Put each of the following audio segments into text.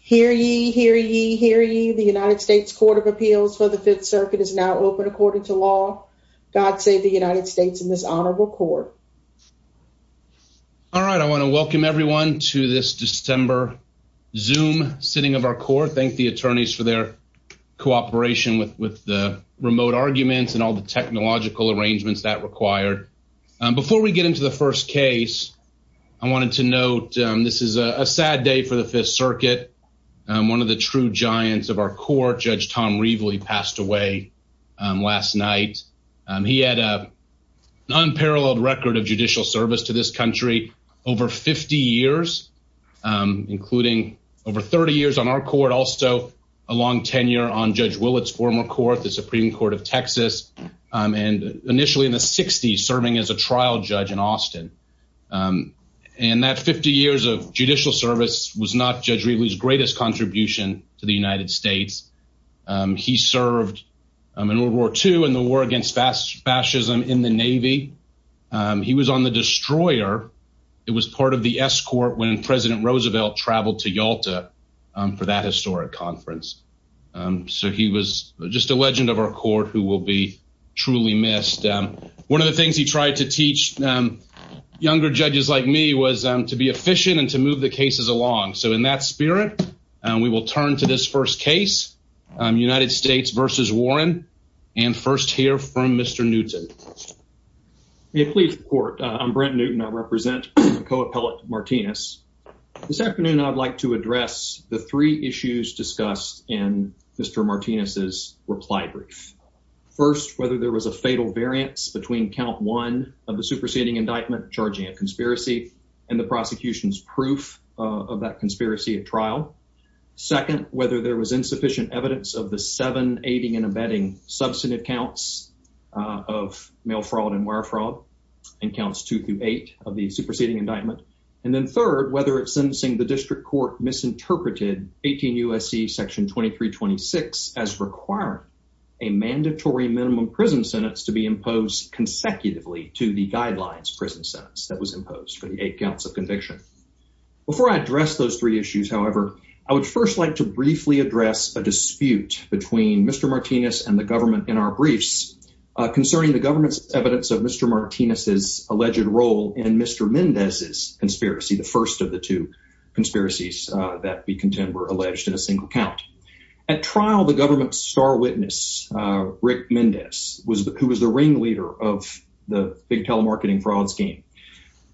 Hear ye, hear ye, hear ye. The United States Court of Appeals for the Fifth Circuit is now open according to law. God save the United States in this honorable court. All right, I want to welcome everyone to this December Zoom sitting of our court. Thank the attorneys for their cooperation with the remote arguments and all the technological arrangements that required. Before we get into the first case, I wanted to note this is a sad day for the Fifth Circuit. One of the true giants of our court, Judge Tom Reveley, passed away last night. He had an unparalleled record of judicial service to this country over 50 years, including over 30 years on our court, also a long tenure on Judge Willett's former court, the Supreme Court of Texas, and initially in the 60s serving as a trial judge in Austin. And that 50 years of judicial service was not Judge Reveley's greatest contribution to the United States. He served in World War II and the war against fascism in the Navy. He was on the destroyer. It was part of the escort when President Roosevelt traveled to Yalta for that historic conference. So he was just a legend of our court who will be truly missed. One of the things he tried to teach younger judges like me was to be efficient and to move the cases along. So in that spirit, we will turn to this first case, United States v. Warren, and first hear from Mr. Newton. May it please the court. I'm Brent Newton. I represent Co-Appellate Martinez. This afternoon, I'd like to address the three issues discussed in Mr. Martinez's reply brief. First, whether there was a fatal variance between count one of the superseding indictment charging a conspiracy, the prosecution's proof of that conspiracy at trial. Second, whether there was insufficient evidence of the seven aiding and abetting substantive counts of mail fraud and wire fraud and counts two through eight of the superseding indictment. And then third, whether it's sentencing the district court misinterpreted 18 U.S.C. Section 2326 as requiring a mandatory minimum prison sentence to be imposed consecutively to the guidelines prison sentence that was imposed for the eight counts of conviction. Before I address those three issues, however, I would first like to briefly address a dispute between Mr. Martinez and the government in our briefs concerning the government's evidence of Mr. Martinez's alleged role in Mr. Mendez's conspiracy, the first of the two conspiracies that we contend were alleged in a single count. At trial, the government's star Rick Mendez, who was the ringleader of the big telemarketing fraud scheme,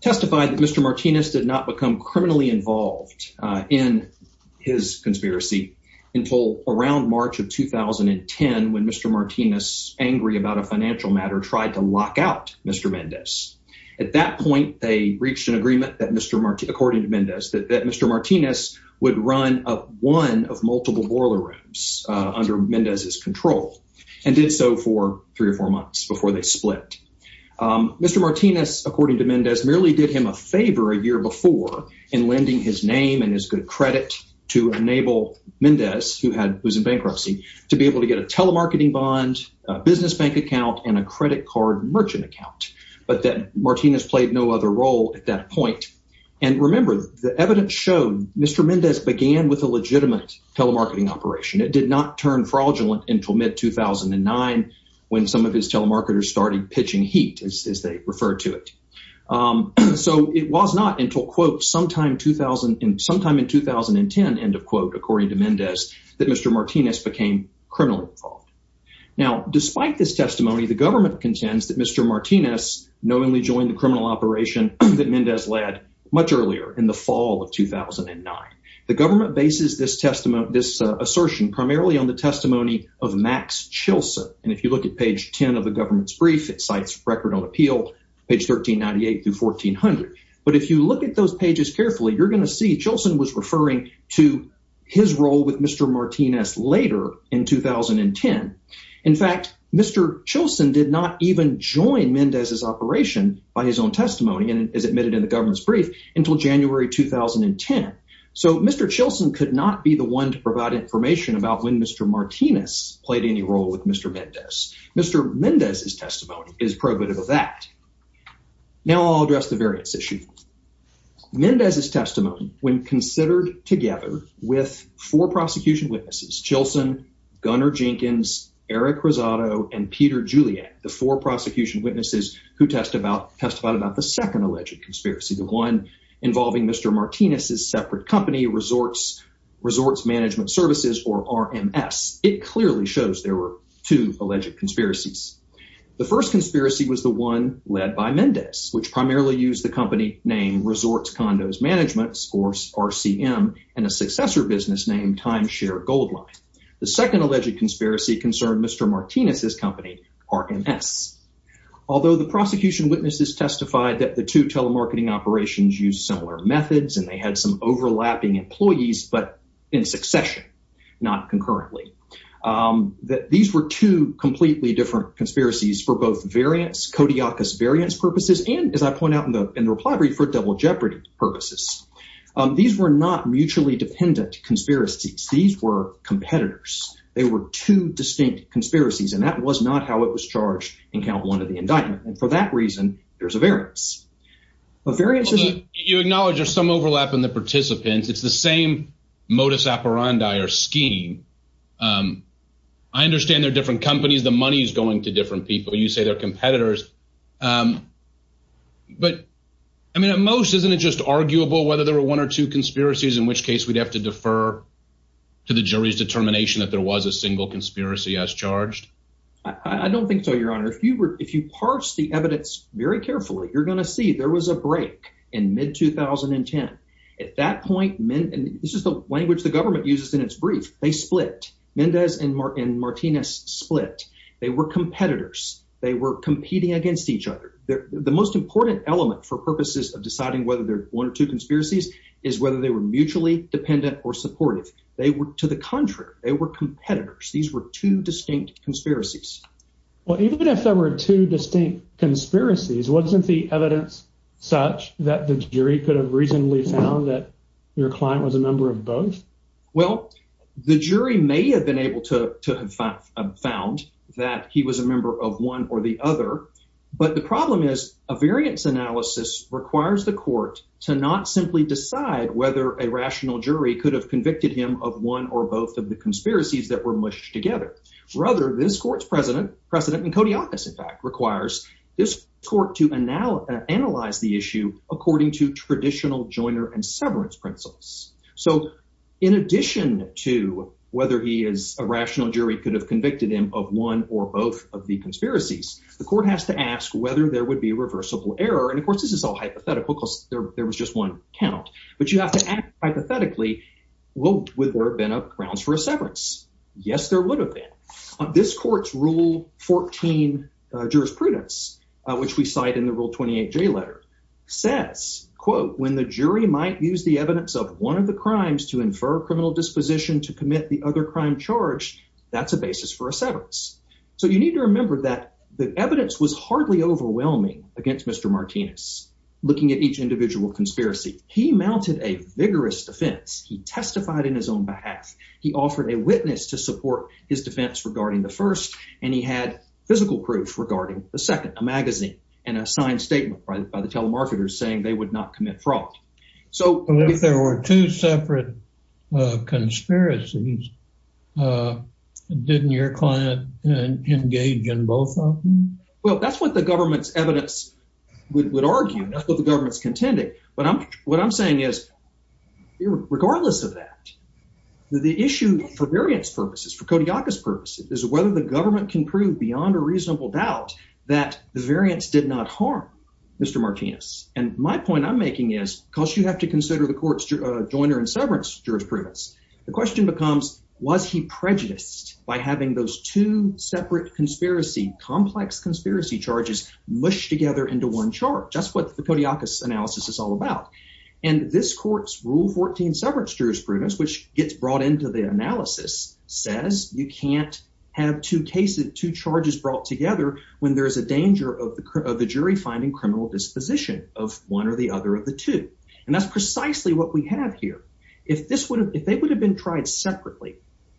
testified that Mr. Martinez did not become criminally involved in his conspiracy until around March of 2010 when Mr. Martinez, angry about a financial matter, tried to lock out Mr. Mendez. At that point, they reached an agreement that Mr. Martinez, according to Mendez, that Mr. and did so for three or four months before they split. Mr. Martinez, according to Mendez, merely did him a favor a year before in lending his name and his good credit to enable Mendez, who was in bankruptcy, to be able to get a telemarketing bond, a business bank account, and a credit card merchant account, but that Martinez played no other role at that point. And remember, the evidence showed Mr. Mendez began with a legitimate telemarketing operation. It did not turn fraudulent until mid-2009 when some of his telemarketers started pitching heat, as they referred to it. So it was not until, quote, sometime in 2010, end of quote, according to Mendez, that Mr. Martinez became criminally involved. Now, despite this testimony, the government contends that Mr. Martinez knowingly joined the criminal operation that Mendez led much earlier in the fall of 2009. The government bases this assertion primarily on the testimony of Max Chilson. And if you look at page 10 of the government's brief, it cites record on appeal, page 1398 through 1400. But if you look at those pages carefully, you're going to see Chilson was referring to his role with Mr. Martinez later in 2010. In fact, Mr. Chilson did not even join Mendez's operation by his own testimony, and it is admitted in the government's brief, until January 2010. So Mr. Chilson could not be the one to provide information about when Mr. Martinez played any role with Mr. Mendez. Mr. Mendez's testimony is probative of that. Now I'll address the variance issue. Mendez's testimony, when considered together with four prosecution witnesses who testified about the second alleged conspiracy, the one involving Mr. Martinez's separate company, Resorts Management Services, or RMS, it clearly shows there were two alleged conspiracies. The first conspiracy was the one led by Mendez, which primarily used the company name Resorts Condos Management, or RCM, and a successor business named Timeshare Goldline. The second alleged conspiracy concerned Mr. Martinez's company, RMS. Although the prosecution witnesses testified that the two telemarketing operations used similar methods, and they had some overlapping employees, but in succession, not concurrently, that these were two completely different conspiracies for both variance, kodiakus variance purposes, and, as I point out in the reply brief, for double jeopardy purposes. These were not mutually dependent conspiracies. These were competitors. They were two distinct conspiracies, and that was not how it was charged in count one of the indictment. And for that reason, there's a variance. A variance is... You acknowledge there's some overlap in the participants. It's the same modus operandi or scheme. I understand they're different companies. The money is going to different people. You say they're competitors. But, I mean, at most, isn't it just arguable whether there were one or two conspiracies, in which case we'd have to defer to the jury's determination that there was a single conspiracy as charged? I don't think so, your honor. If you were... If you parse the evidence very carefully, you're going to see there was a break in mid-2010. At that point, men... And this is the language the government uses in its brief. They split. Mendez and Martinez split. They were competitors. They were competing against each other. The most important element for purposes of deciding whether there's one or two conspiracies is whether they were mutually dependent or supportive. They were... To the contrary, they were competitors. These were two distinct conspiracies. Well, even if there were two distinct conspiracies, wasn't the evidence such that the jury could have reasonably found that your client was a member of both? Well, the jury may have been able to have found that he was a variant. The problem is, a variance analysis requires the court to not simply decide whether a rational jury could have convicted him of one or both of the conspiracies that were mushed together. Rather, this court's president, President Nkotiakis, in fact, requires this court to analyze the issue according to traditional joiner and severance principles. So in addition to whether he is... A rational jury could have convicted him of one or both of the conspiracies. The court has to ask whether there would be a reversible error. And of course, this is all hypothetical because there was just one count. But you have to ask hypothetically, well, would there have been grounds for a severance? Yes, there would have been. This court's Rule 14 jurisprudence, which we cite in the Rule 28J letter, says, when the jury might use the evidence of one of the crimes to infer a criminal disposition to evidence was hardly overwhelming against Mr. Martinez. Looking at each individual conspiracy, he mounted a vigorous defense. He testified in his own behalf. He offered a witness to support his defense regarding the first, and he had physical proof regarding the second, a magazine, and a signed statement by the telemarketers saying they would not commit fraud. So if there were two separate conspiracies, didn't your client engage in both of them? Well, that's what the government's evidence would argue. That's what the government's contending. But what I'm saying is, regardless of that, the issue for variance purposes, for Kodiakus purpose, is whether the government can prove beyond a reasonable doubt that the variance did not harm Mr. Martinez. And my point I'm making is, because you have to consider the court's joiner and severance jurisprudence, the question becomes, was he prejudiced by having those two separate conspiracy, complex conspiracy charges mushed together into one chart? That's what the Kodiakus analysis is all about. And this court's Rule 14 severance jurisprudence, which gets brought into the analysis, says you can't have two charges brought together when there's a danger of the jury finding criminal disposition of one or the other of the two. And that's precisely what we have here. If they would have been tried separately,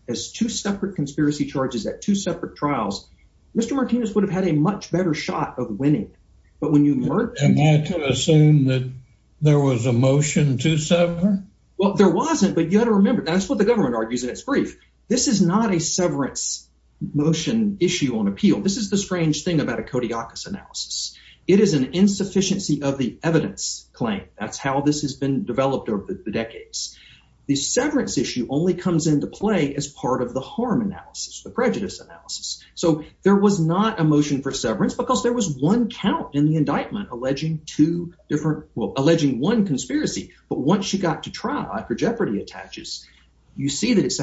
as two separate conspiracy charges at two separate trials, Mr. Martinez would have had a much better shot of winning. But when you merge... Am I to assume that there was a motion to sever? Well, there wasn't, but you have to remember, that's what the government argues in its brief. This is not a severance motion issue on appeal. This is the strange thing about a Kodiakus analysis. It is an insufficiency of the evidence claim. That's how this has been developed over the decades. The severance issue only comes into play as part of the harm analysis, the prejudice analysis. So there was not a motion for severance because there was one count in the indictment alleging two different... Well, alleging one conspiracy. But once you got to trial, after Jeopardy attaches, you see that it's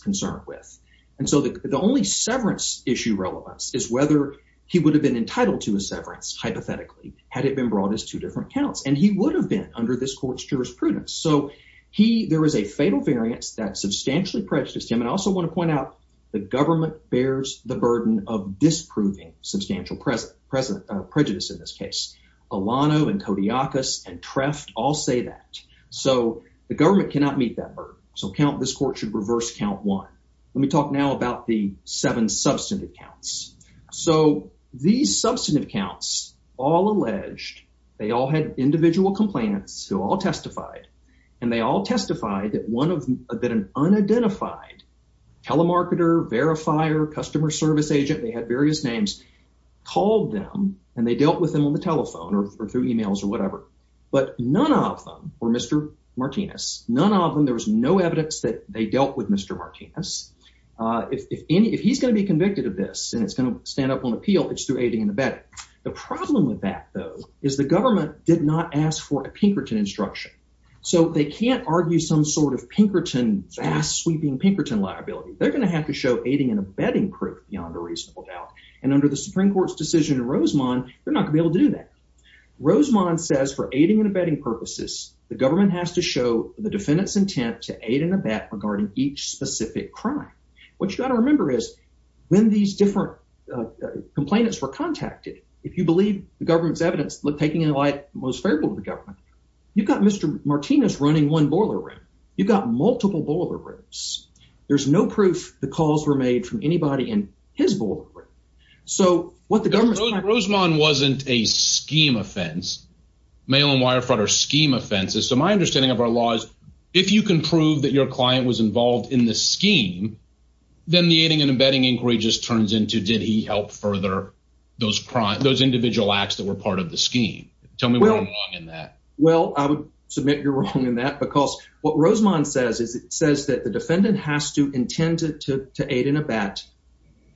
concerned with. And so the only severance issue relevance is whether he would have been entitled to a severance, hypothetically, had it been brought as two different counts. And he would have been under this court's jurisprudence. So there is a fatal variance that substantially prejudiced him. And I also want to point out, the government bears the burden of disproving substantial prejudice in this case. Alano and Kodiakus and Treft all say that. So the government should reverse count one. Let me talk now about the seven substantive counts. So these substantive counts, all alleged, they all had individual complaints who all testified. And they all testified that an unidentified telemarketer, verifier, customer service agent, they had various names, called them and they dealt with them on the telephone or through emails or whatever. But none of them were Mr. Martinez. None of them. There was no evidence that they dealt with Mr. Martinez. If he's going to be convicted of this and it's going to stand up on appeal, it's through aiding and abetting. The problem with that, though, is the government did not ask for a Pinkerton instruction. So they can't argue some sort of Pinkerton, fast sweeping Pinkerton liability. They're going to have to show aiding and abetting proof beyond a reasonable doubt. And under the Supreme Court's decision in Rosemont, they're not going to be able to do that. Rosemont says for aiding and abetting purposes, the government has to show the defendant's intent to aid and abet regarding each specific crime. What you got to remember is when these different complainants were contacted, if you believe the government's evidence, look, taking a light, most favorable to the government, you've got Mr. Martinez running one boiler room. You've got multiple boiler rooms. There's no proof the calls were made from anybody in his board. So what the government Rosemont wasn't a scheme offense, mail and wire fraud or scheme offenses. So my understanding of our laws, if you can prove that your client was involved in the scheme, then the aiding and abetting inquiry just turns into did he help further those crimes, those individual acts that were part of the scheme? Tell me what's wrong in that. Well, I would submit you're wrong in that because what Rosemont says is it says that the defendant has to intend to aid and abet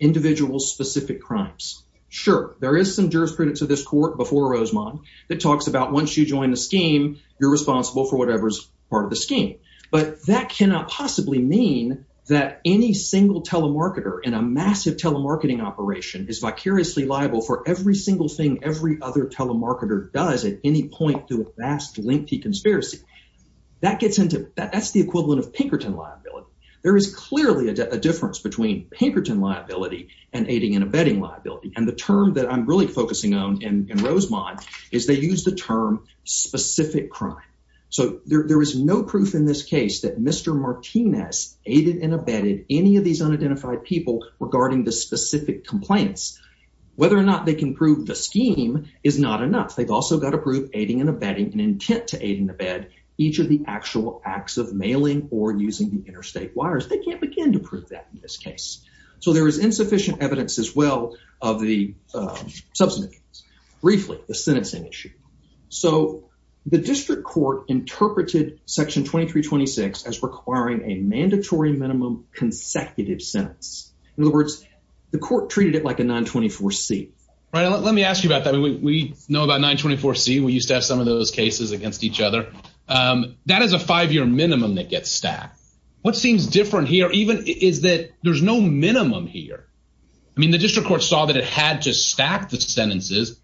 individual specific crimes. Sure, there is some jurisprudence of this court before Rosemont that talks about once you join the scheme, you're responsible for whatever's part of the scheme. But that cannot possibly mean that any single telemarketer in a massive telemarketing operation is vicariously liable for every single thing every other telemarketer does at any point to a vast lengthy conspiracy that gets into that. That's the equivalent of Pinkerton liability. There is clearly a difference between Pinkerton liability and aiding and abetting liability. And the term that I'm really focusing on in Rosemont is they use the term specific crime. So there is no proof in this case that Mr Martinez aided and abetted any of these unidentified people regarding the specific complaints. Whether or not they can prove the scheme is not enough. They've also got to prove aiding and abetting and intent to aid and abet each of the actual acts of mailing or using the interstate wires. They can't begin to prove that in this case. So there is insufficient evidence as well of the subsequent briefly the sentencing issue. So the district court interpreted section 2326 as requiring a mandatory minimum consecutive sentence. In other words, the court treated it like a 924 C. Right. Let me ask you about that. We know about 924 C. We used to have some of those against each other. That is a five year minimum that gets stacked. What seems different here even is that there's no minimum here. I mean, the district court saw that it had to stack the sentences,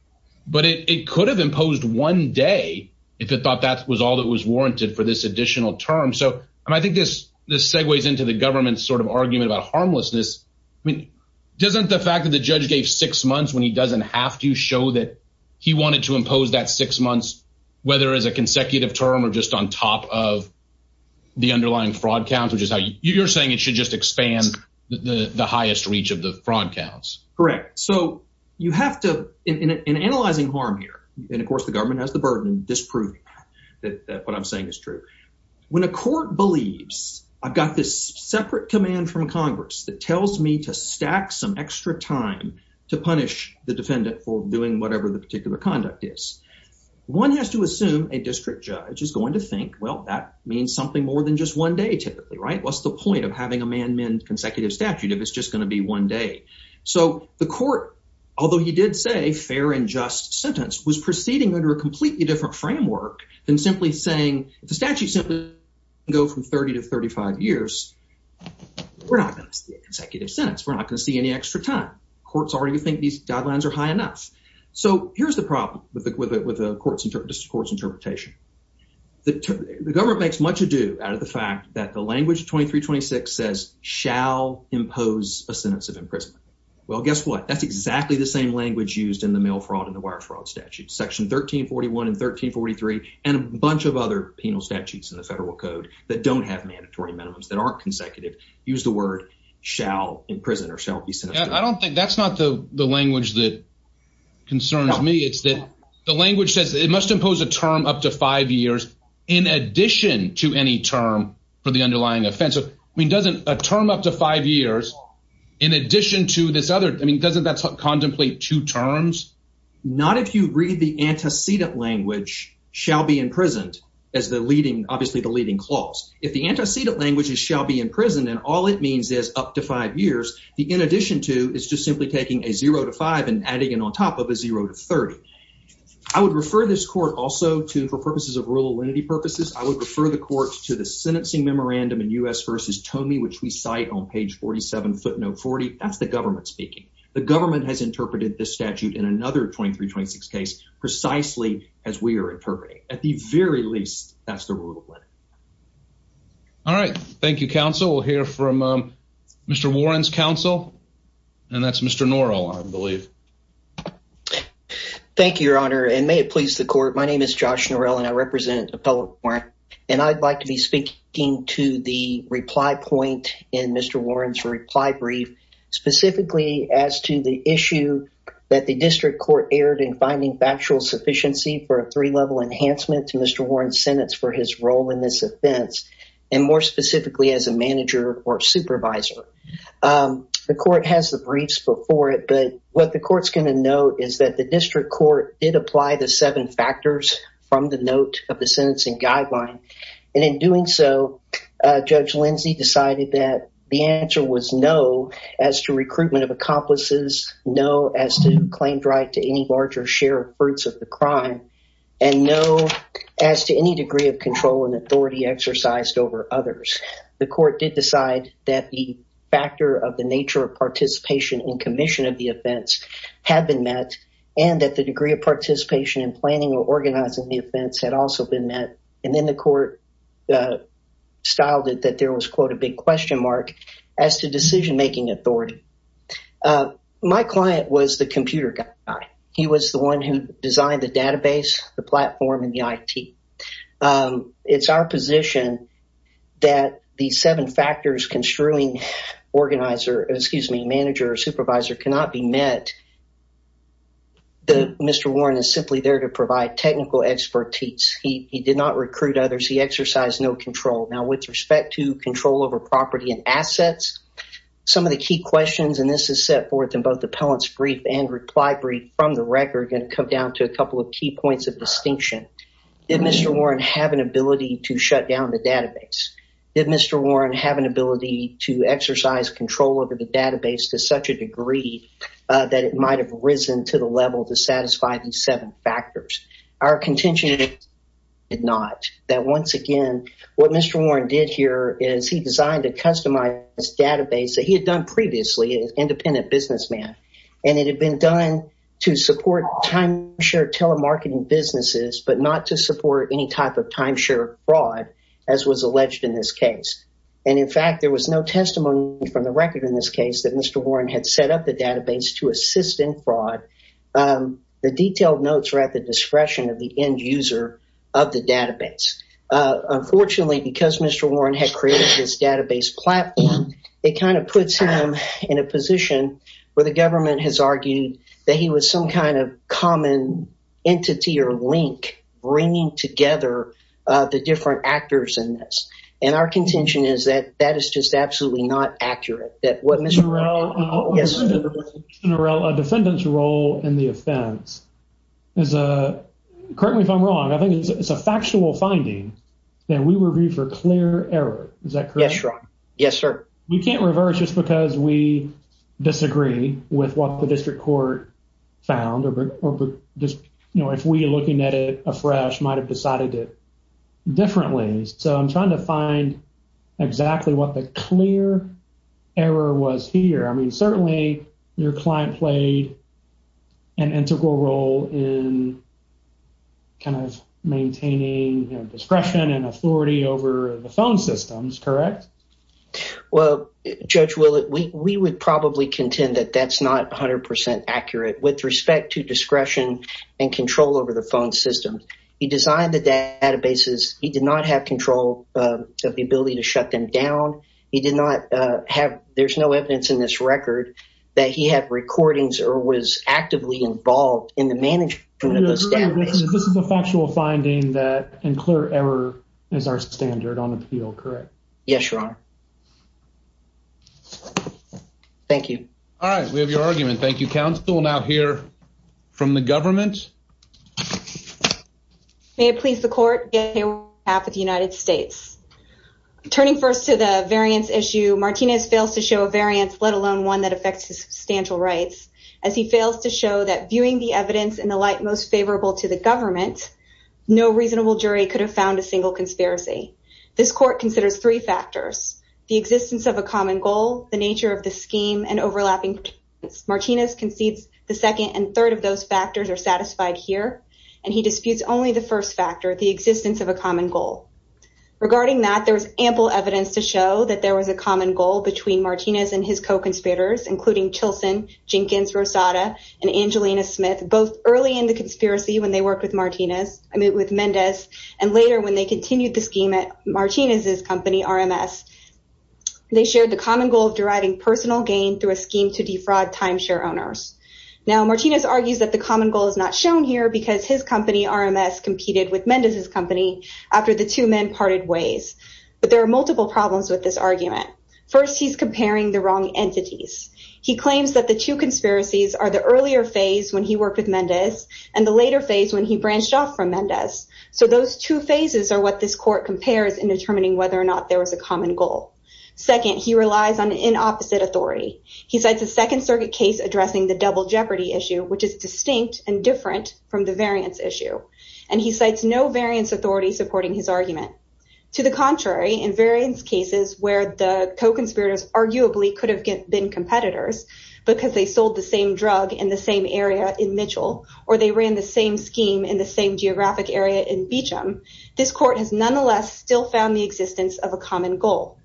but it could have imposed one day if it thought that was all that was warranted for this additional term. So I think this this segues into the government sort of argument about harmlessness. I mean, doesn't the fact that the judge gave six months when he doesn't have to show that he wanted to impose that six months, whether as a consecutive term or just on top of the underlying fraud count, which is how you're saying it should just expand the highest reach of the fraud counts. Correct. So you have to in analyzing harm here. And of course, the government has the burden of disproving that what I'm saying is true. When a court believes I've got this separate command from Congress that tells me to stack some extra time to punish the defendant for doing whatever the particular conduct is, one has to assume a district judge is going to think, well, that means something more than just one day typically. Right. What's the point of having a manman consecutive statute if it's just going to be one day? So the court, although he did say fair and just sentence, was proceeding under a completely different framework than simply saying the statute simply go from 30 to 35 years. We're not going to see a consecutive sentence. We're not going to see any extra time. Courts already think these guidelines are high enough. So here's the problem with it, with the court's interpretation. The government makes much ado out of the fact that the language 2326 says shall impose a sentence of imprisonment. Well, guess what? That's exactly the same language used in the mail fraud and the wire fraud statute section 1341 and 1343 and a bunch of other penal statutes in the federal code that don't have mandatory minimums that aren't consecutive. Use the word shall imprison or shall be sent. I don't think that's not the language that concerns me. It's that the language says it must impose a term up to five years in addition to any term for the underlying offense. I mean, doesn't a term up to five years in addition to this other I mean, doesn't that contemplate two terms? Not if you read the antecedent language shall be obviously the leading clause. If the antecedent language is shall be in prison and all it means is up to five years, the in addition to is just simply taking a zero to five and adding it on top of a zero to 30. I would refer this court also to for purposes of rural entity purposes. I would refer the court to the sentencing memorandum in U.S. versus Tomei, which we cite on page 47 foot note 40. That's the government speaking. The government has interpreted this statute in another 2326 case precisely as we are interpreting. At the very least, that's the rule of law. All right. Thank you, counsel. We'll hear from Mr. Warren's counsel and that's Mr. Norrell, I believe. Thank you, your honor, and may it please the court. My name is Josh Norrell and I represent Appellate Warrant and I'd like to be speaking to the reply point in Mr. Warren's reply brief specifically as to the issue that the district court erred in finding factual sufficiency for a three-level enhancement to Mr. Warren's sentence for his role in this offense and more specifically as a manager or supervisor. The court has the briefs before it, but what the court's going to note is that the district court did apply the seven factors from the note of the as to recruitment of accomplices, no as to claimed right to any larger share of fruits of the crime, and no as to any degree of control and authority exercised over others. The court did decide that the factor of the nature of participation in commission of the offense had been met and that the degree of participation in planning or organizing the offense had also been met and the court styled it that there was, quote, a big question mark as to decision-making authority. My client was the computer guy. He was the one who designed the database, the platform, and the IT. It's our position that the seven factors construing organizer, excuse me, manager or supervisor cannot be met. Mr. Warren is simply there to provide technical expertise. He did not recruit others. He exercised no control. Now with respect to control over property and assets, some of the key questions, and this is set forth in both appellant's brief and reply brief from the record, going to come down to a couple of key points of distinction. Did Mr. Warren have an ability to shut down the database? Did Mr. Warren have an ability to exercise control over the database to such a degree that it might have risen to the level to satisfy these seven factors? Our contention is not. That once again, what Mr. Warren did here is he designed a customized database that he had done previously as an independent businessman. And it had been done to support timeshare telemarketing businesses, but not to support any type of timeshare fraud, as was alleged in this case. And in fact, there was no testimony from the record in this case that Mr. Warren had set up the database to assist in fraud. The detailed notes are at the discretion of the end user of the database. Unfortunately, because Mr. Warren had created this database platform, it kind of puts him in a position where the government has argued that he was some kind of common entity or link bringing together the different actors in this. And our absolutely not accurate at what Mr. Warren did. General, a defendant's role in the offense is, correct me if I'm wrong, I think it's a factual finding that we review for clear error. Is that correct? Yes, sir. You can't reverse just because we disagree with what the district court found or just, you know, if we are looking at it afresh, might have decided it differently. So I'm trying to find exactly what the clear error was here. I mean, certainly your client played an integral role in kind of maintaining discretion and authority over the phone systems, correct? Well, Judge Willett, we would probably contend that that's not 100% accurate with respect to discretion and control over the phone system. He designed the databases, he did not have control of the ability to shut them down. He did not have, there's no evidence in this record that he had recordings or was actively involved in the management of those databases. This is a factual finding that in clear error is our standard on appeal, correct? Yes, your honor. Thank you. All right, we have your argument. Thank you, Your Honor. So, we have a case that we will be looking at today on behalf of the United States. Turning first to the variance issue, Martinez fails to show a variance, let alone one that affects his substantial rights, as he fails to show that viewing the evidence in the light most favorable to the government, no reasonable jury could have found a single conspiracy. This court considers three factors, the existence of a common goal, the nature of the scheme, and overlapping. Martinez concedes the second and third of those factors are satisfied here, and he disputes only the first factor, the existence of a common goal. Regarding that, there's ample evidence to show that there was a common goal between Martinez and his co-conspirators, including Chilson, Jenkins, Rosada, and Angelina Smith, both early in the conspiracy when they worked with Martinez, I mean with Mendez, and later when they continued the scheme at Martinez's company, RMS. They shared the common goal of deriving personal gain through a scheme to defraud timeshare owners. Now, Martinez argues that the common goal is not shown here because his company, RMS, competed with Mendez's company after the two men parted ways. But there are multiple problems with this argument. First, he's comparing the wrong entities. He claims that the two conspiracies are the earlier phase when he worked with Mendez, and the later phase when he branched off from Mendez. So, those two phases are what this court compares in determining whether or not there was common goal. Second, he relies on an inopposite authority. He cites a Second Circuit case addressing the double jeopardy issue, which is distinct and different from the variance issue, and he cites no variance authority supporting his argument. To the contrary, in variance cases where the co-conspirators arguably could have been competitors because they sold the same drug in the same area in Mitchell, or they ran the same scheme in the same geographic area in Beecham, this court has nonetheless still found the existence of a common goal.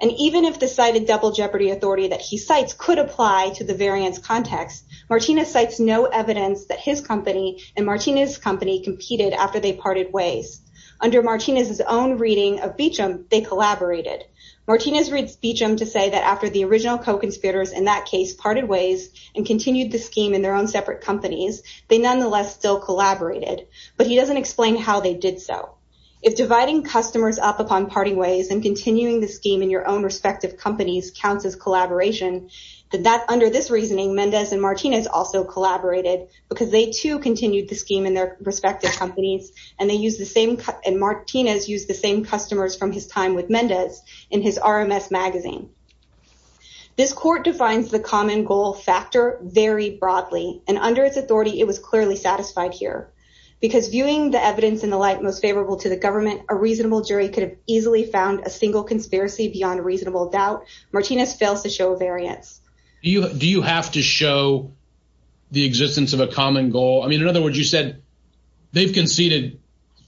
And even if the cited double jeopardy authority that he cites could apply to the variance context, Martinez cites no evidence that his company and Martinez's company competed after they parted ways. Under Martinez's own reading of Beecham, they collaborated. Martinez reads Beecham to say that after the original co-conspirators in that case parted ways and continued the scheme in their own separate companies, they nonetheless still collaborated. But he doesn't explain how they did so. If dividing customers up upon parting ways and continuing the scheme in your own respective companies counts as collaboration, then under this reasoning, Mendez and Martinez also collaborated because they too continued the scheme in their respective companies, and Martinez used the same customers from his time with Mendez in his RMS magazine. This court defines the common goal factor very broadly, and under its authority, it was clearly satisfied here. Because viewing the evidence in the light most favorable to the government, a reasonable jury could have easily found a single conspiracy beyond reasonable doubt. Martinez fails to show variance. Do you have to show the existence of a common goal? I mean, in other words, you said they've conceded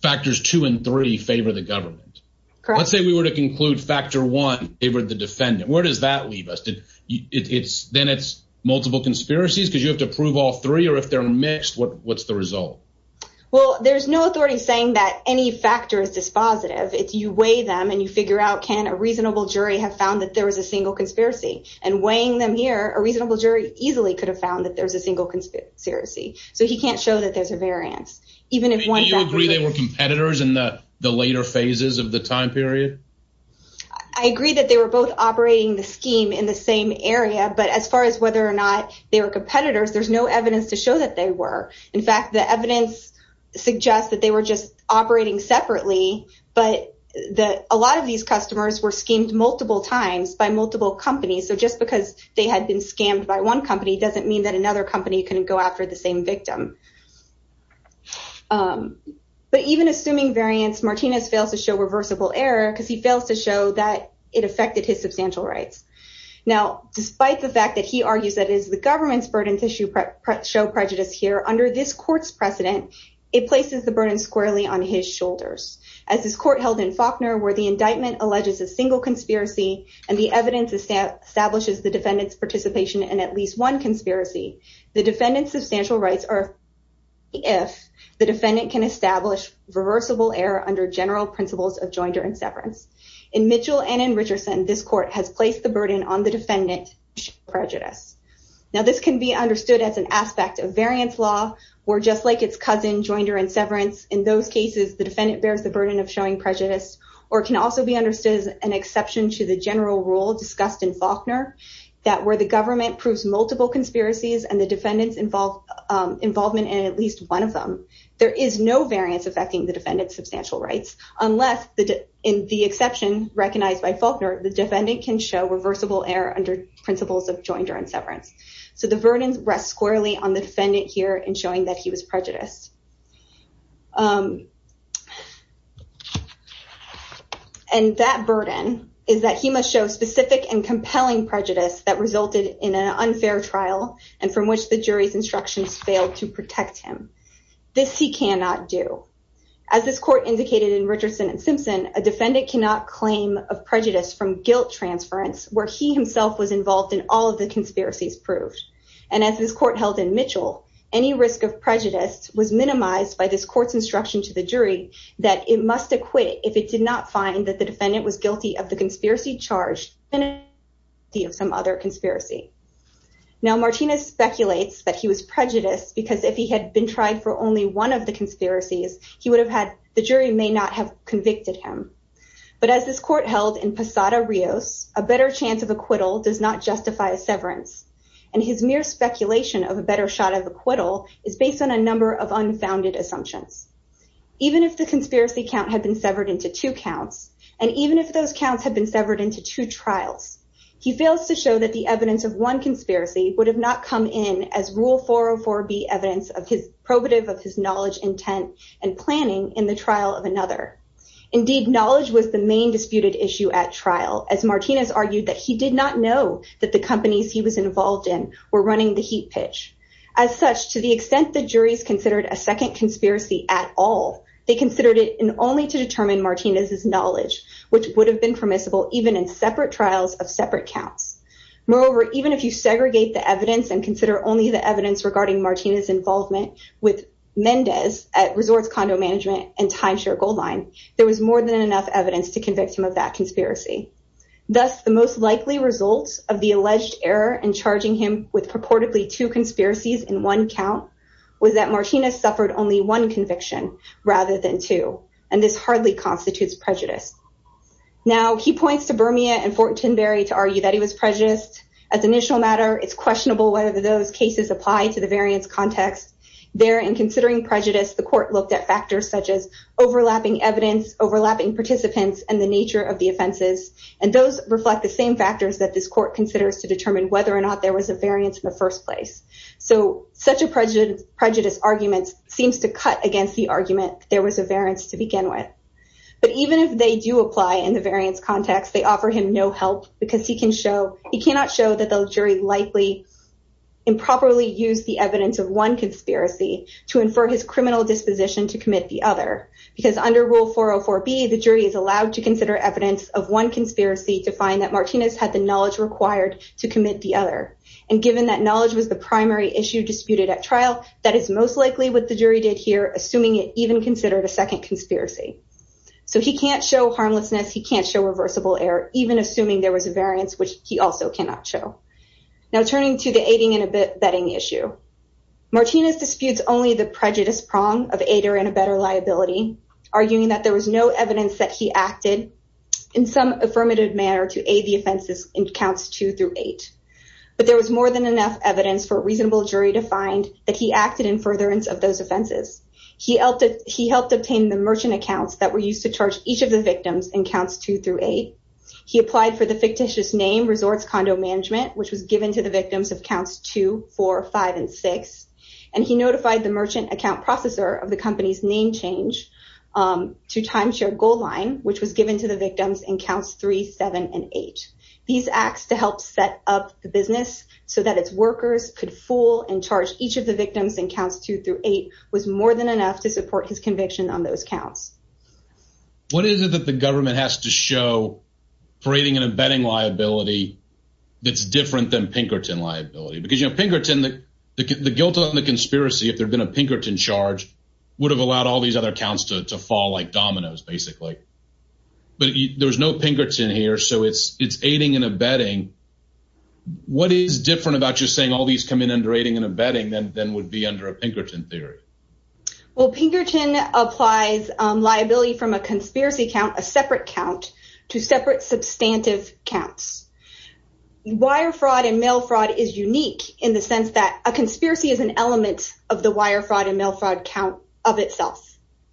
factors two and three favor the government. Let's say we were to conclude factor one favored the defendant. Where does that leave us? It's then it's multiple conspiracies because you have to prove all three, or if they're mixed, what's the result? Well, there's no authority saying that any factor is dispositive. If you weigh them and you figure out, can a reasonable jury have found that there was a single conspiracy? And weighing them here, a reasonable jury easily could have found that there's a single conspiracy. So he can't show that there's a variance. Do you agree they were competitors in the later phases of the time period? I agree that they were both operating the scheme in the same area, but as far as whether or not they were competitors, there's no evidence to show that they were. In fact, the evidence suggests that they were just operating separately, but that a lot of these customers were schemed multiple times by multiple companies. So just because they had been scammed by one company doesn't mean that another company can go after the same victim. But even assuming variance, Martinez fails to show reversible error because he fails to show that it affected his substantial rights. Now, despite the fact that he argues that it's the government's burden to show prejudice here, under this court's precedent, it places the burden squarely on his shoulders. As this court held in Faulkner, where the indictment alleges a single conspiracy and the evidence establishes the defendant's participation in at least one conspiracy, the defendant's substantial rights are if the defendant can establish reversible error under general principles of joinder and severance. In Mitchell and in Richardson, this court has placed the burden on the defendant to show prejudice. Now, this can be understood as an aspect of variance law, where just like its cousin, joinder and severance, in those cases, the defendant bears the burden of showing prejudice, or it can also be understood as an exception to the general rule discussed in Faulkner, that where the government proves multiple conspiracies and the defendant's involvement in at least one of them, there is no variance affecting the defendant's substantial rights, unless in the exception recognized by Faulkner, the defendant can show reversible error under principles of joinder and severance. So the burden rests squarely on the defendant here in showing that he was prejudiced. And that burden is that he must show specific and compelling prejudice that resulted in an unfair trial, and from which the jury's instructions failed to protect him. This he cannot do. As this court indicated in Richardson and Simpson, a defendant cannot claim of prejudice from guilt transference, where he himself was involved in all of the conspiracies proved. And as this court held in Mitchell, any risk of prejudice was minimized by this court's instruction to the jury that it must acquit if it did not find that the defendant was guilty of the conspiracy charge, and guilty of some other conspiracy. Now, Martinez speculates that he was prejudiced because if he had been tried for only one of the conspiracies, he would have had, the jury may not have convicted him. But as this court held in Posada-Rios, a better chance of severance, and his mere speculation of a better shot of acquittal is based on a number of unfounded assumptions. Even if the conspiracy count had been severed into two counts, and even if those counts have been severed into two trials, he fails to show that the evidence of one conspiracy would have not come in as rule 404B evidence of his probative of his knowledge, intent, and planning in the trial of another. Indeed, knowledge was the main disputed issue at trial, as Martinez argued that he did not know that the companies he was involved in were running the heat pitch. As such, to the extent the juries considered a second conspiracy at all, they considered it only to determine Martinez's knowledge, which would have been permissible even in separate trials of separate counts. Moreover, even if you segregate the evidence and consider only the evidence regarding Martinez's involvement with Mendez at Resorts Condo Management and Timeshare Goldline, there was more than enough evidence to convict him of that conspiracy. Thus, the most likely result of the alleged error in charging him with purportedly two conspiracies in one count was that Martinez suffered only one conviction rather than two, and this hardly constitutes prejudice. Now, he points to Bermia and Fortinberry to argue that he was prejudiced. As an initial matter, it's questionable whether those cases apply to the variance context. There, in considering prejudice, the court looked at factors such as overlapping evidence, overlapping participants, and the nature of the offenses, and those reflect the same factors that this court considers to determine whether or not there was a variance in the first place. So, such a prejudice argument seems to cut against the argument there was a variance to begin with. But even if they do apply in the variance context, they offer him no help because he cannot show that the jury likely improperly used the evidence of one conspiracy to infer his criminal disposition to commit the other, because under Rule 404B, the jury is allowed to consider evidence of one conspiracy to find that Martinez had the knowledge required to commit the other, and given that knowledge was the primary issue disputed at trial, that is most likely what the jury did here, assuming it even considered a second conspiracy. So, he can't show harmlessness. He can't show reversible error, even assuming there was a betting issue. Martinez disputes only the prejudice prong of aid or in a better liability, arguing that there was no evidence that he acted in some affirmative manner to aid the offenses in Counts 2 through 8, but there was more than enough evidence for a reasonable jury to find that he acted in furtherance of those offenses. He helped obtain the merchant accounts that were used to charge each of the victims in Counts 2 through 8. He applied for the fictitious name Resorts Condo Management, which was given to the victims of Counts 2, 4, 5, and 6, and he notified the merchant account processor of the company's name change to Timeshare Gold Line, which was given to the victims in Counts 3, 7, and 8. These acts to help set up the business so that its workers could fool and charge each of the victims in Counts 2 through 8 was more than enough to support his conviction on those counts. What is it that the government has to show for aiding and abetting liability that's different than Pinkerton liability? Because, you know, Pinkerton, the guilt on the conspiracy, if there'd been a Pinkerton charge, would have allowed all these other accounts to fall like dominoes, basically. But there's no Pinkerton here, so it's aiding and abetting. What is different about just saying all these come in under aiding and abetting than would be under a Pinkerton theory? Well, Pinkerton applies liability from a conspiracy count, a separate count, to separate substantive counts. Wire fraud and mail fraud is unique in the sense that a conspiracy is an element of the wire fraud and mail fraud count of itself.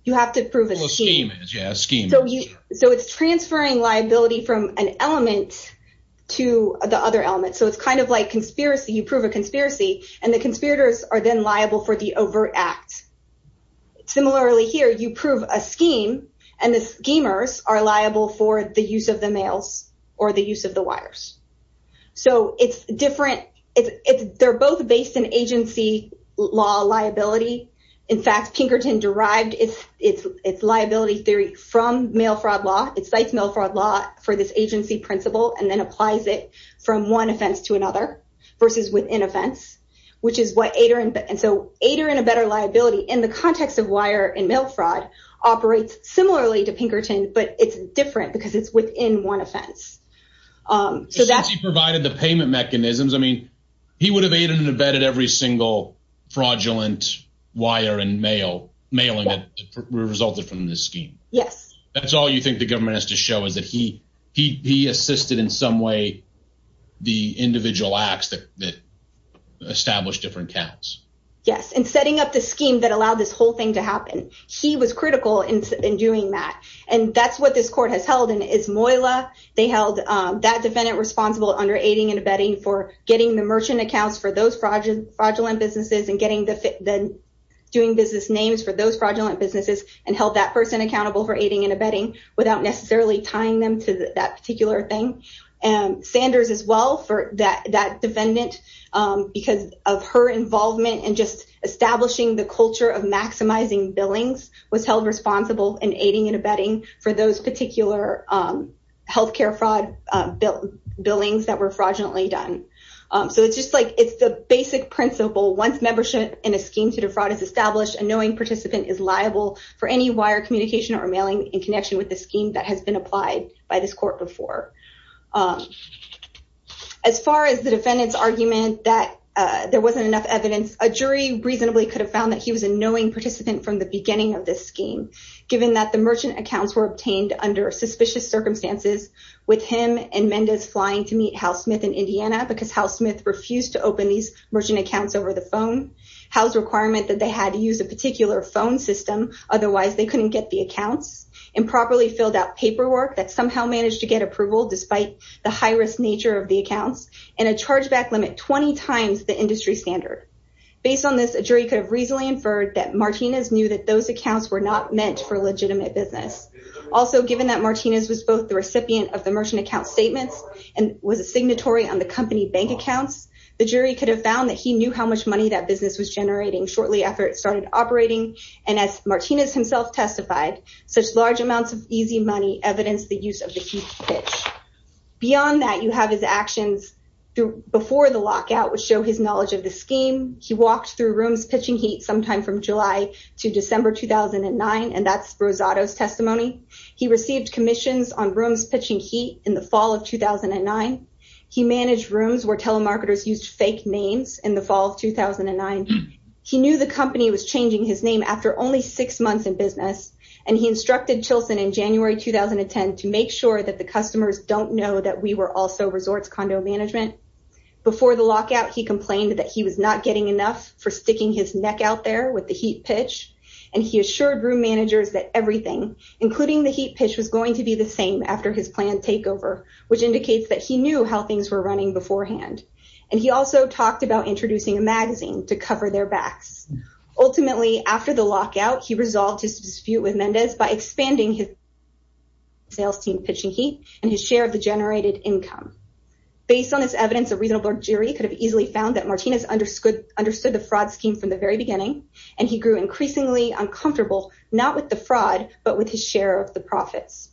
You have to prove a scheme. So it's transferring liability from an element to the other element. So it's kind of like conspiracy, you prove a conspiracy, and the conspirators are then liable for the overt act. Similarly here, you prove a scheme, and the schemers are liable for the use of the mails or the use of the wires. So it's different. They're both based in agency law liability. In fact, Pinkerton derived its liability theory from mail fraud law. It cites mail fraud law for this agency principle and then applies it from one offense to another versus within offense, which is what Ader and Abetter liability, in the context of wire and mail fraud, operates similarly to Pinkerton, but it's different because it's within one offense. Since he provided the payment mechanisms, I mean, he would have aided and abetted every single fraudulent wire and mail, mailing that resulted from this scheme. Yes. That's all you think the established different counts. Yes. And setting up the scheme that allowed this whole thing to happen. He was critical in doing that. And that's what this court has held, and it's Moyla. They held that defendant responsible under aiding and abetting for getting the merchant accounts for those fraudulent businesses and getting the doing business names for those fraudulent businesses and held that person accountable for aiding and abetting without necessarily tying them to that particular thing. And Sanders as well for that defendant, because of her involvement and just establishing the culture of maximizing billings was held responsible in aiding and abetting for those particular healthcare fraud billings that were fraudulently done. So it's just like, it's the basic principle. Once membership in a scheme to defraud is established, a knowing participant is liable for any wire communication or mailing in connection with the scheme that has been applied by this court before. As far as the defendant's argument that there wasn't enough evidence, a jury reasonably could have found that he was a knowing participant from the beginning of this scheme, given that the merchant accounts were obtained under suspicious circumstances with him and Mendes flying to meet Hal Smith in Indiana, because Hal Smith refused to open these merchant accounts over the phone. Hal's requirement that they had to use a particular phone system, otherwise they couldn't get the accounts, improperly filled out paperwork that somehow managed to get approval despite the high-risk nature of the accounts, and a chargeback limit 20 times the industry standard. Based on this, a jury could have reasonably inferred that Martinez knew that those accounts were not meant for legitimate business. Also, given that Martinez was both the recipient of the merchant account statements and was a signatory on the company bank accounts, the jury could have found that he knew how much money that business was generating shortly after it started operating, and as Martinez himself testified, such large amounts of easy money evidenced the use of the heat pitch. Beyond that, you have his actions before the lockout, which show his knowledge of the scheme. He walked through rooms pitching heat sometime from July to December 2009, and that's Rosado's testimony. He received commissions on rooms pitching heat in the fall of 2009. He managed rooms where telemarketers used fake names in the fall of 2009. He knew the company was changing his name after only six months in business, and he instructed Chilson in January 2010 to make sure that the customers don't know that we were also resorts condo management. Before the lockout, he complained that he was not getting enough for sticking his neck out there with the heat pitch, and he assured room managers that everything, including the heat pitch, was going to be the same after his planned takeover, which indicates that he knew how things were running beforehand, and he also talked about introducing a magazine to cover their backs. Ultimately, after the lockout, he resolved his dispute with Mendez by expanding his sales team pitching heat and his share of the generated income. Based on this evidence, a reasonable jury could have easily found that Martinez understood the fraud scheme from the very beginning, and he grew increasingly uncomfortable, not with the fraud, but with his share of the profits.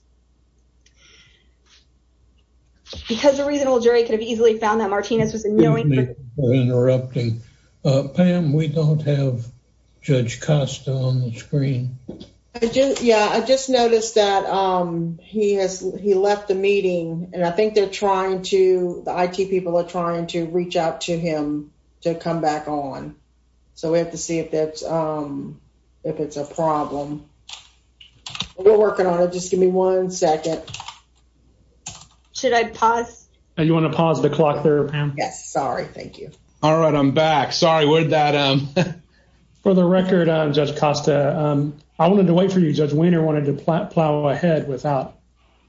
Because a reasonable jury could have easily found that Martinez was knowingly interrupting. Pam, we don't have Judge Costa on the screen. Yeah, I just noticed that he has he left the meeting, and I think they're trying to, the IT people are trying to reach out to him to come back on, so we have to see if that's, if it's a problem. We're working on it. Just give me one second. Should I pause? You want to pause the clock there, Pam? Yes, sorry, thank you. All right, I'm back. Sorry, we're at that. For the record, Judge Costa, I wanted to wait for you. Judge Weiner wanted to plow ahead without.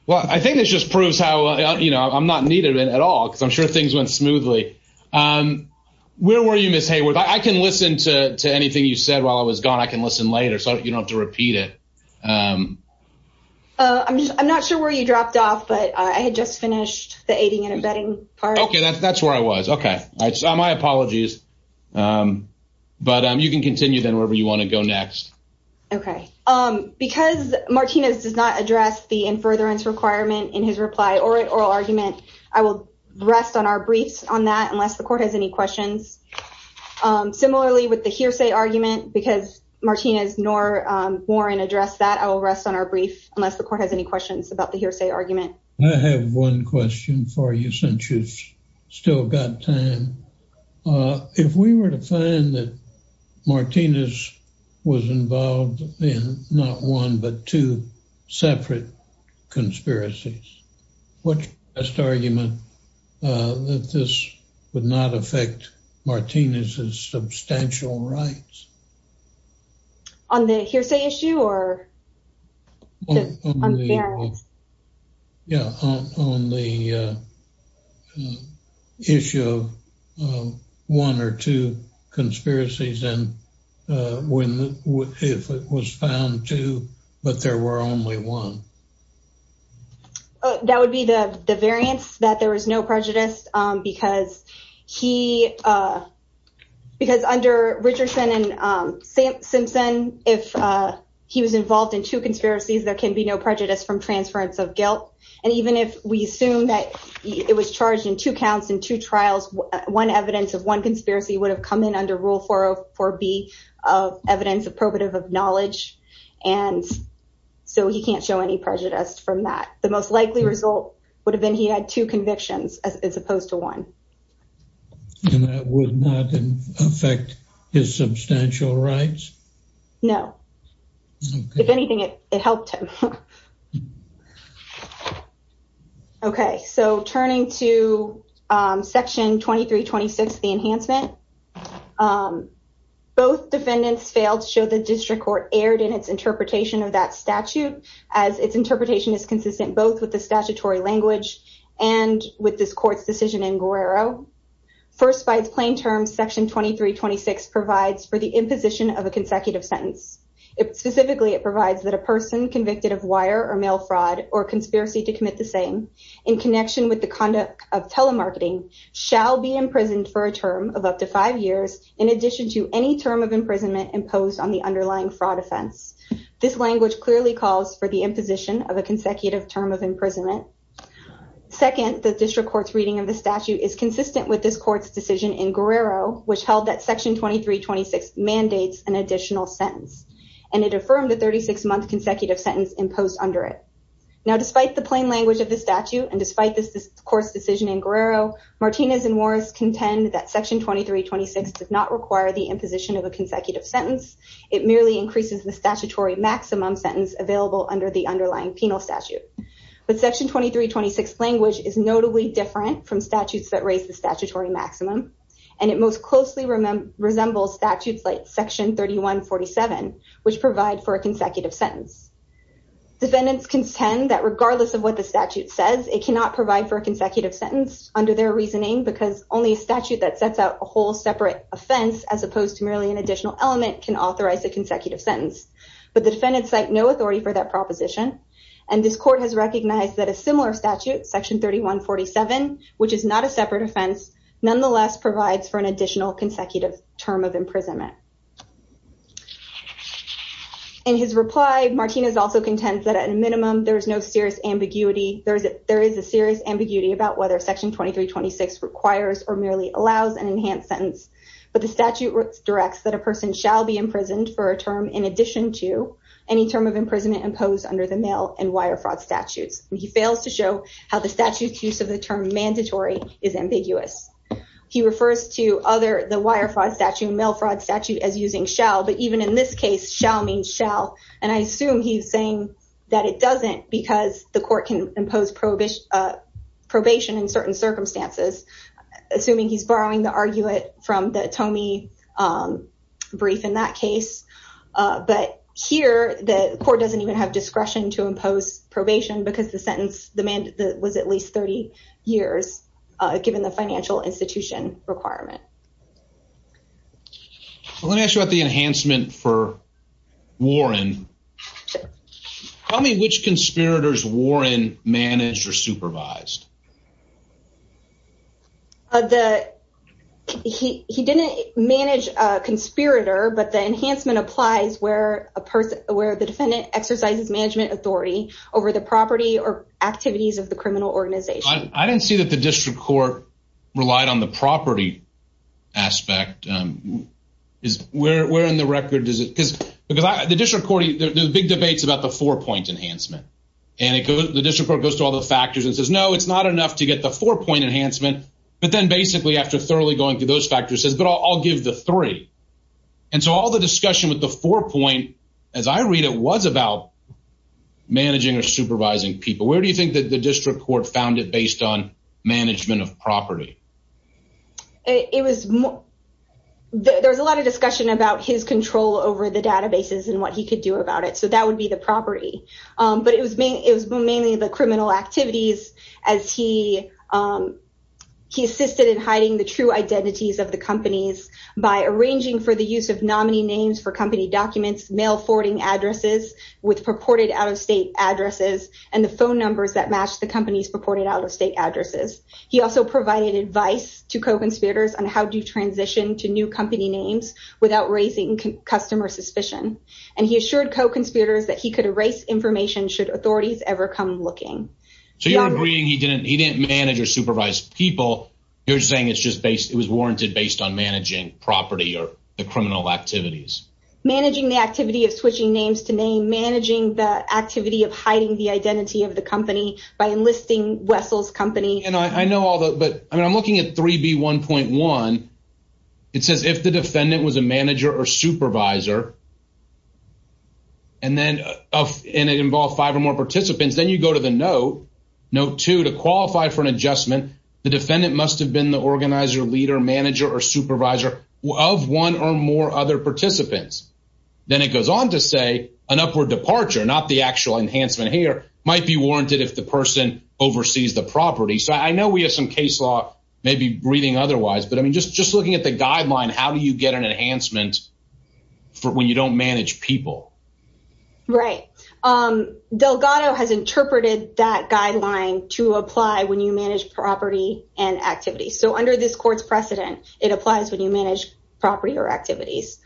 Well, I think this just proves how, you know, I'm not needed at all, because I'm sure things went smoothly. Where were you, Ms. Hayworth? I can listen to anything you said while I was gone. I can listen later, so you don't have to repeat it. I'm just, I'm not sure where you dropped off, but I had just finished the aiding and abetting part. Okay, that's where I was. Okay, all right, so my apologies, but you can continue then wherever you want to go next. Okay, because Martinez does not address the in-furtherance requirement in his reply or oral argument, I will rest on our briefs on that unless the court has any questions. Similarly, with the hearsay argument, because Martinez nor Warren addressed that, I will rest on our brief unless the court has any questions about the hearsay argument. I have one question for you since you've still got time. If we were to find that Martinez was involved in not one but two separate conspiracies, what's the best argument that this would not affect Martinez's substantial rights? On the hearsay issue or? Yeah, on the issue of one or two conspiracies, and if it was found two, but there were only one. That would be the variance that there was no prejudice because under Richardson and Simpson, if he was involved in two conspiracies, there can be no prejudice from transference of guilt. And even if we assume that it was charged in two counts in two trials, one evidence of one so he can't show any prejudice from that. The most likely result would have been he had two convictions as opposed to one. And that would not affect his substantial rights? No. If anything, it helped him. Okay, so turning to section 2326, the enhancement. Both defendants failed to show the district court erred in its interpretation of that statute as its interpretation is consistent both with the statutory language and with this court's decision in Guerrero. First by its plain terms, section 2326 provides for the imposition of a consecutive sentence. Specifically, it provides that a person convicted of wire or mail fraud or conspiracy to commit the same in connection with the conduct of telemarketing shall be imprisoned for a term of up to five years in addition to any term of imprisonment imposed on the underlying fraud offense. This language clearly calls for the imposition of a consecutive term of imprisonment. Second, the district court's reading of the statute is consistent with this court's decision in Guerrero, which held that section 2326 mandates an additional sentence, and it affirmed the 36-month consecutive sentence imposed under it. Now, despite the plain language of the statute and despite this court's decision in Guerrero, Martinez and Morris contend that section 2326 does not require the imposition of a consecutive sentence. It merely increases the statutory maximum sentence available under the underlying penal statute. But section 2326 language is notably different from statutes that raise the statutory maximum, and it most closely resembles statutes like section 3147, which provide for a consecutive sentence. Defendants contend that it cannot provide for a consecutive sentence under their reasoning because only a statute that sets out a whole separate offense, as opposed to merely an additional element, can authorize a consecutive sentence. But the defendants cite no authority for that proposition, and this court has recognized that a similar statute, section 3147, which is not a separate offense, nonetheless provides for an additional consecutive term of imprisonment. In his reply, Martinez also contends that at a minimum, there is no serious ambiguity, there is a serious ambiguity about whether section 2326 requires or merely allows an enhanced sentence. But the statute directs that a person shall be imprisoned for a term in addition to any term of imprisonment imposed under the mail and wire fraud statutes. He fails to show how the statute's use of the term mandatory is ambiguous. He refers to other, the wire fraud statute as using shall, but even in this case, shall means shall. And I assume he's saying that it doesn't because the court can impose probation in certain circumstances, assuming he's borrowing the argument from the Tomee brief in that case. But here, the court doesn't even have discretion to impose probation because the sentence was at least 30 years, given the financial institution requirement. Well, let me ask you about the enhancement for Warren. Tell me which conspirators Warren managed or supervised. The, he didn't manage a conspirator, but the enhancement applies where a person, where the defendant exercises management authority over the property or activities of the criminal organization. I didn't see that the district court relied on the property aspect. Where in the record is it? Because the district court, there's big debates about the four-point enhancement. And it goes, the district court goes to all the factors and says, no, it's not enough to get the four-point enhancement. But then basically after thoroughly going through those factors says, but I'll give the three. And so all the discussion with the four-point, as I read, it was about managing or supervising people. Where do you think that the district court found it based on management of property? It was, there was a lot of discussion about his control over the databases and what he could do about it. So that would be the property. But it was mainly the criminal activities as he assisted in hiding the true identities of the addresses with purported out-of-state addresses and the phone numbers that match the company's purported out-of-state addresses. He also provided advice to co-conspirators on how to transition to new company names without raising customer suspicion. And he assured co-conspirators that he could erase information should authorities ever come looking. So you're agreeing he didn't, he didn't manage or supervise people. You're saying it's just based, it was warranted based on managing property or the criminal activities. Managing the activity of switching names to name, managing the activity of hiding the identity of the company by enlisting Wessel's company. And I know all that, but I mean, I'm looking at 3B1.1. It says if the defendant was a manager or supervisor, and then, and it involved five or more participants, then you go to the note, note two to qualify for an adjustment. The defendant must have been the organizer, leader, manager or supervisor of one or more other participants. Then it goes on to say an upward departure, not the actual enhancement here, might be warranted if the person oversees the property. So I know we have some case law maybe breathing otherwise, but I mean, just, just looking at the guideline, how do you get an enhancement for when you don't manage people? Right. Delgado has interpreted that guideline to apply when you manage property and activity. So under this court's precedent, it applies when you manage property or activities.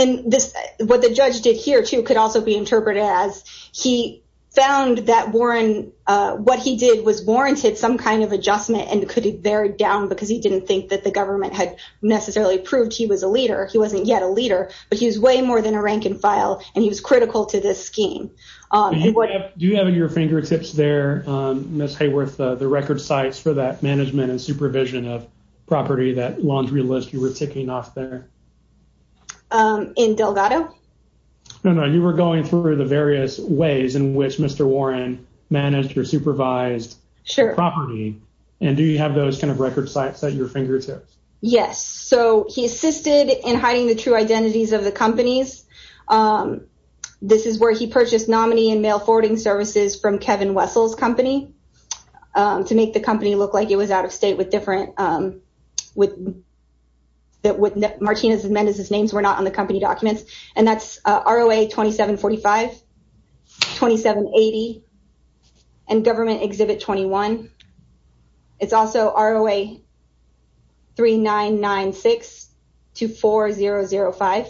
And this, what the judge did here too, could also be interpreted as he found that Warren, what he did was warranted some kind of adjustment and could be buried down because he didn't think that the government had necessarily proved he was a leader. He wasn't yet a leader, but he was way more than a rank and file. And he was critical to this scheme. Do you have in your fingertips there, Ms. Hayworth, the record sites for that management and supervision of property, that laundry list you were ticking off there? In Delgado? No, no. You were going through the various ways in which Mr. Warren managed or supervised the property. And do you have those kind of record sites at your fingertips? Yes. So he assisted in hiding the true nominee and mail forwarding services from Kevin Wessel's company to make the company look like it was out of state with different, that Martinez and Mendez's names were not on the company documents. And that's ROA 2745, 2780, and Government Exhibit 21. It's also ROA 3996 to 4005.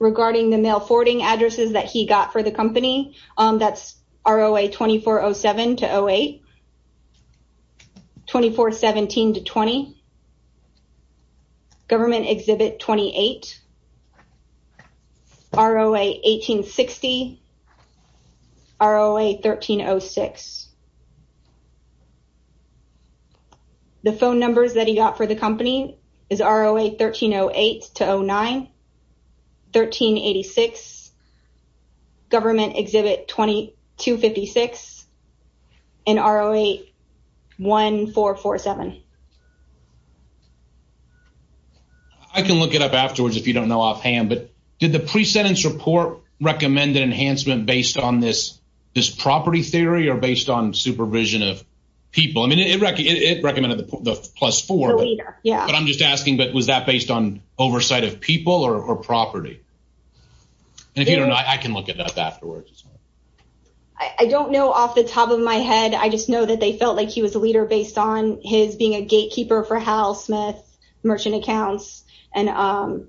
Regarding the mail forwarding addresses that he got for the company, that's ROA 2407 to 08, 2417 to 20, Government Exhibit 28, ROA 1860, ROA 1306. The phone numbers that he got for the company is ROA 1308 to 09, 1386, Government Exhibit 2256, and ROA 1447. I can look it up afterwards if you don't know offhand, but did the pre-sentence report recommend an enhancement based on this property theory or based on supervision of people? I mean, it recommended the plus four, but I'm just asking, but was that based on oversight of people or property? And if you don't know, I can look it up afterwards. I don't know off the top of my head. I just know that they felt like he was a leader based on his being a gatekeeper for Hal Smith merchant accounts and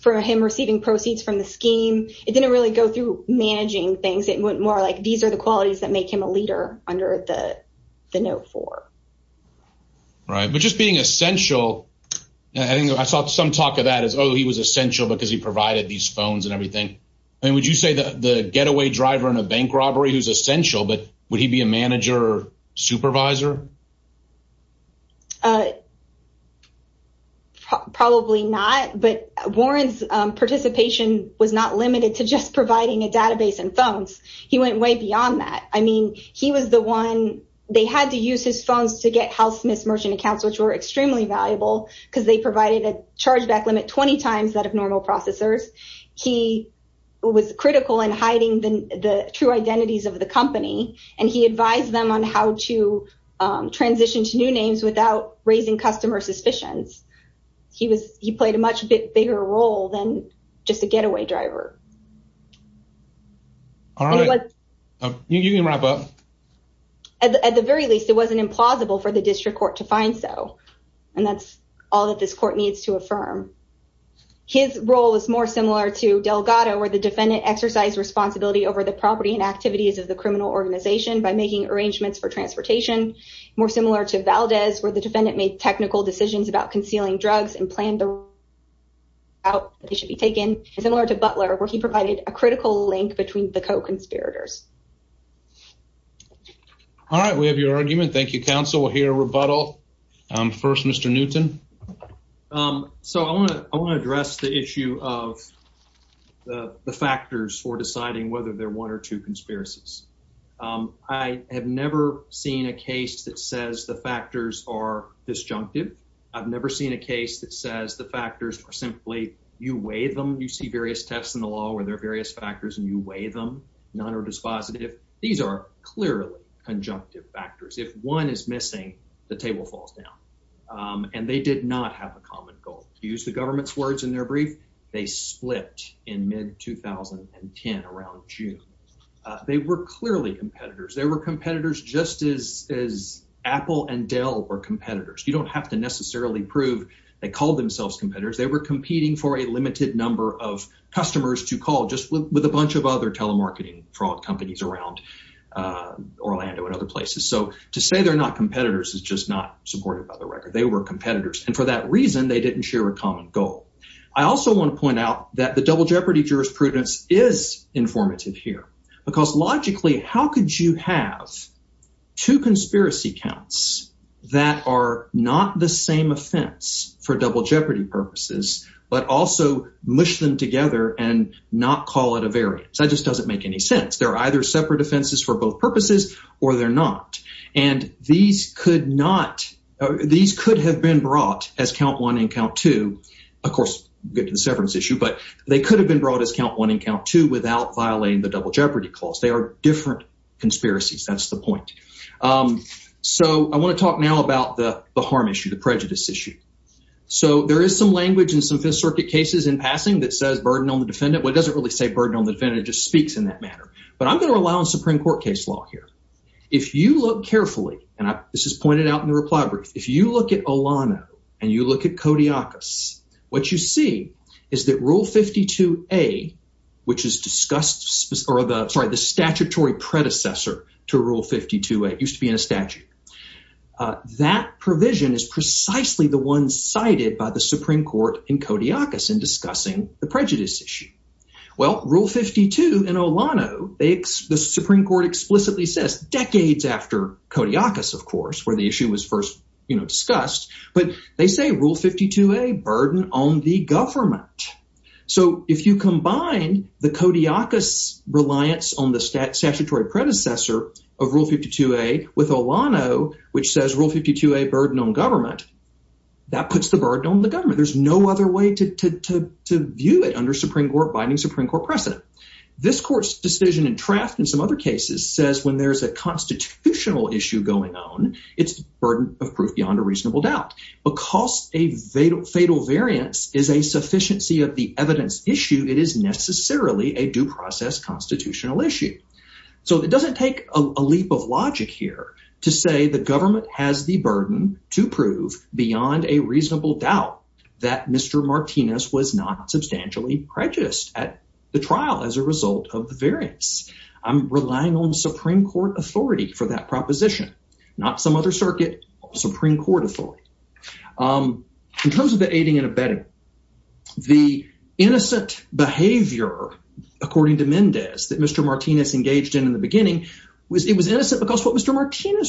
for him receiving proceeds from the scheme. It didn't really go through managing things. It went more like these are the qualities that make him a leader under the note four. Right. But just being essential, I saw some talk of that as, oh, he was essential because he provided these phones and everything. I mean, would you say the getaway driver in a bank robbery who's essential, but he be a manager supervisor? Probably not. But Warren's participation was not limited to just providing a database and phones. He went way beyond that. I mean, he was the one they had to use his phones to get Hal Smith merchant accounts, which were extremely valuable because they provided a chargeback limit 20 times that of normal processors. He was critical in hiding the true identities of the company, and he advised them on how to transition to new names without raising customer suspicions. He played a much bigger role than just a getaway driver. All right. You can wrap up. At the very least, it wasn't implausible for the district court to find so. And that's all that this court needs to affirm. His role is more similar to Delgado, where the defendant exercised responsibility over the property and activities of the criminal organization by making arrangements for transportation. More similar to Valdez, where the defendant made technical decisions about concealing drugs and planned the route they should be taken. Similar to Butler, where he provided a critical link between the co-conspirators. All right. We have your argument. Thank you, counsel. We'll hear a rebuttal. First, Mr Newton. Um, so I want to address the issue of the factors for deciding whether they're one or two conspiracies. I have never seen a case that says the factors are disjunctive. I've never seen a case that says the factors are simply you weigh them. You see various tests in the law where there are various factors and you weigh them. None are dispositive. These are clearly conjunctive factors. If one is missing, the table falls down. Um, and they did not have a common goal. Use the government's words in their brief. They slipped in mid 2010 around June. They were clearly competitors. There were competitors just as as Apple and Dell were competitors. You don't have to necessarily prove they called themselves competitors. They were competing for a limited number of customers to call just with a bunch of other telemarketing fraud companies around Orlando and other places. So to say they're not competitors is just not supportive of the record. They were competitors. And for that reason, they didn't share a common goal. I also want to point out that the double jeopardy jurisprudence is informative here, because logically, how could you have two conspiracy counts that are not the same offense for double jeopardy purposes, but also mush them together and not call it a variance? That just doesn't make any sense. They're either separate offenses for both purposes or they're not. And these could not, these could have been brought as count one and count two. Of course, get to the severance issue, but they could have been brought as count one and count two without violating the double jeopardy clause. They are different conspiracies. That's the point. Um, so I want to talk now about the harm issue, the prejudice issue. So there is some language in some Fifth Circuit cases in passing that says burden on the defendant. Well, it doesn't really say burden on the defendant, it just speaks in that manner. But I'm going to rely on Supreme Court case law here. If you look carefully, and this is pointed out in the reply brief, if you look at Olano and you look at Kodiakos, what you see is that Rule 52A, which is discussed, or the statutory predecessor to Rule 52A, used to be in a statute. That provision is precisely the one cited by the Supreme Court in Kodiakos in discussing the prejudice issue. Well, Rule 52 in Olano, the Supreme Court explicitly says, decades after Kodiakos, of course, where the issue was first, you know, discussed, but they say Rule 52A, burden on the government. So if you combine the Kodiakos reliance on the statutory predecessor of Rule 52A with Olano, which says Rule 52A, burden on government, that puts the burden on the government. There's no other way to view it under binding Supreme Court precedent. This court's decision and draft, and some other cases, says when there's a constitutional issue going on, it's burden of proof beyond a reasonable doubt. Because a fatal variance is a sufficiency of the evidence issue, it is necessarily a due process constitutional issue. So it doesn't take a leap of logic here to say the government has the burden to prove beyond a reasonable doubt that Mr. Martinez was not substantially prejudiced at the trial as a result of the variance. I'm relying on Supreme Court authority for that proposition, not some other circuit, Supreme Court authority. In terms of the aiding and abetting, the innocent behavior, according to Mendez, that Mr. Martinez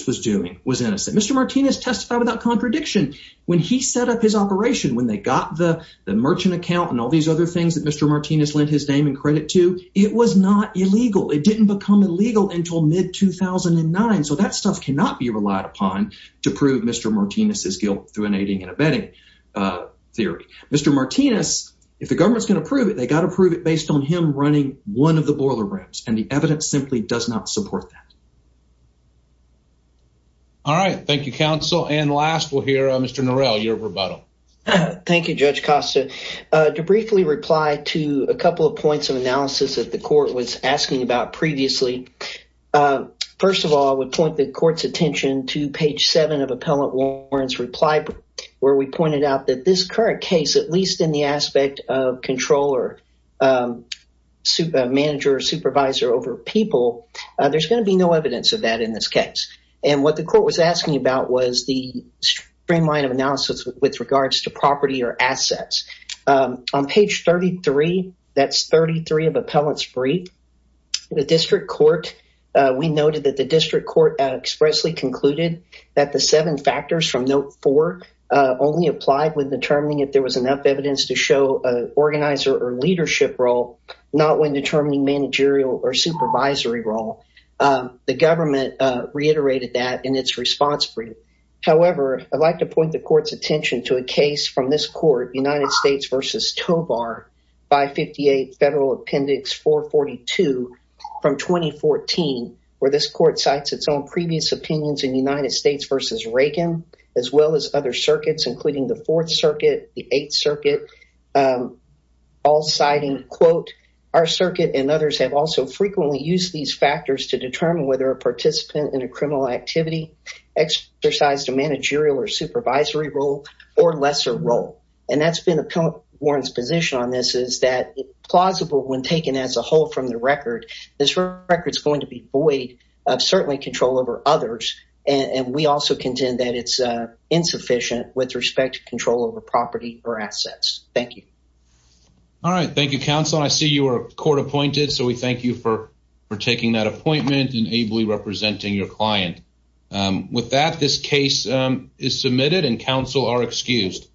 was doing was innocent. Mr. Martinez testified without contradiction. When he set up his operation, when they got the merchant account and all these other things that Mr. Martinez lent his name and credit to, it was not illegal. It didn't become illegal until mid-2009. So that stuff cannot be relied upon to prove Mr. Martinez's guilt through an aiding and abetting theory. Mr. Martinez, if the government's going to prove it, they got to prove it based on him running one of the boiler rooms, and the evidence simply does not support that. All right. Thank you, counsel. And last, we'll hear Mr. Norell, your rebuttal. Thank you, Judge Costa. To briefly reply to a couple of points of analysis that the court was asking about previously. First of all, I would point the court's attention to page seven of Appellant Warren's reply, where we pointed out that this current case, at least in the aspect of controller, manager, supervisor over people, there's going to be no evidence of that in this case. And what the court was asking about was the streamline of analysis with regards to property or assets. On page 33, that's 33 of Appellant's brief, the district court, we noted that the district court expressly concluded that the seven factors from note four only applied when determining if there was enough evidence to show an organizer or leadership role, not when determining managerial or supervisory role. The government reiterated that in its response brief. However, I'd like to point the court's attention to a case from this court, United States v. Tovar, 558 Federal Appendix 442 from 2014, where this court cites its own previous opinions in United States v. Reagan, as well as other circuits, including the Fourth Circuit, the Eighth Circuit, all citing, quote, our circuit and others have also frequently used these factors to determine whether a participant in a criminal activity exercised a managerial or supervisory role or lesser role. And that's been Appellant Warren's position on this, is that plausible when taken as a whole from the record, this record is going to be void of certainly control over others, and we also contend that it's insufficient with respect to control over property or assets. Thank you. All right, thank you, counsel. I see you are court appointed, so we thank you for for taking that appointment and ably representing your client. With that, this case is submitted and counsel are excused.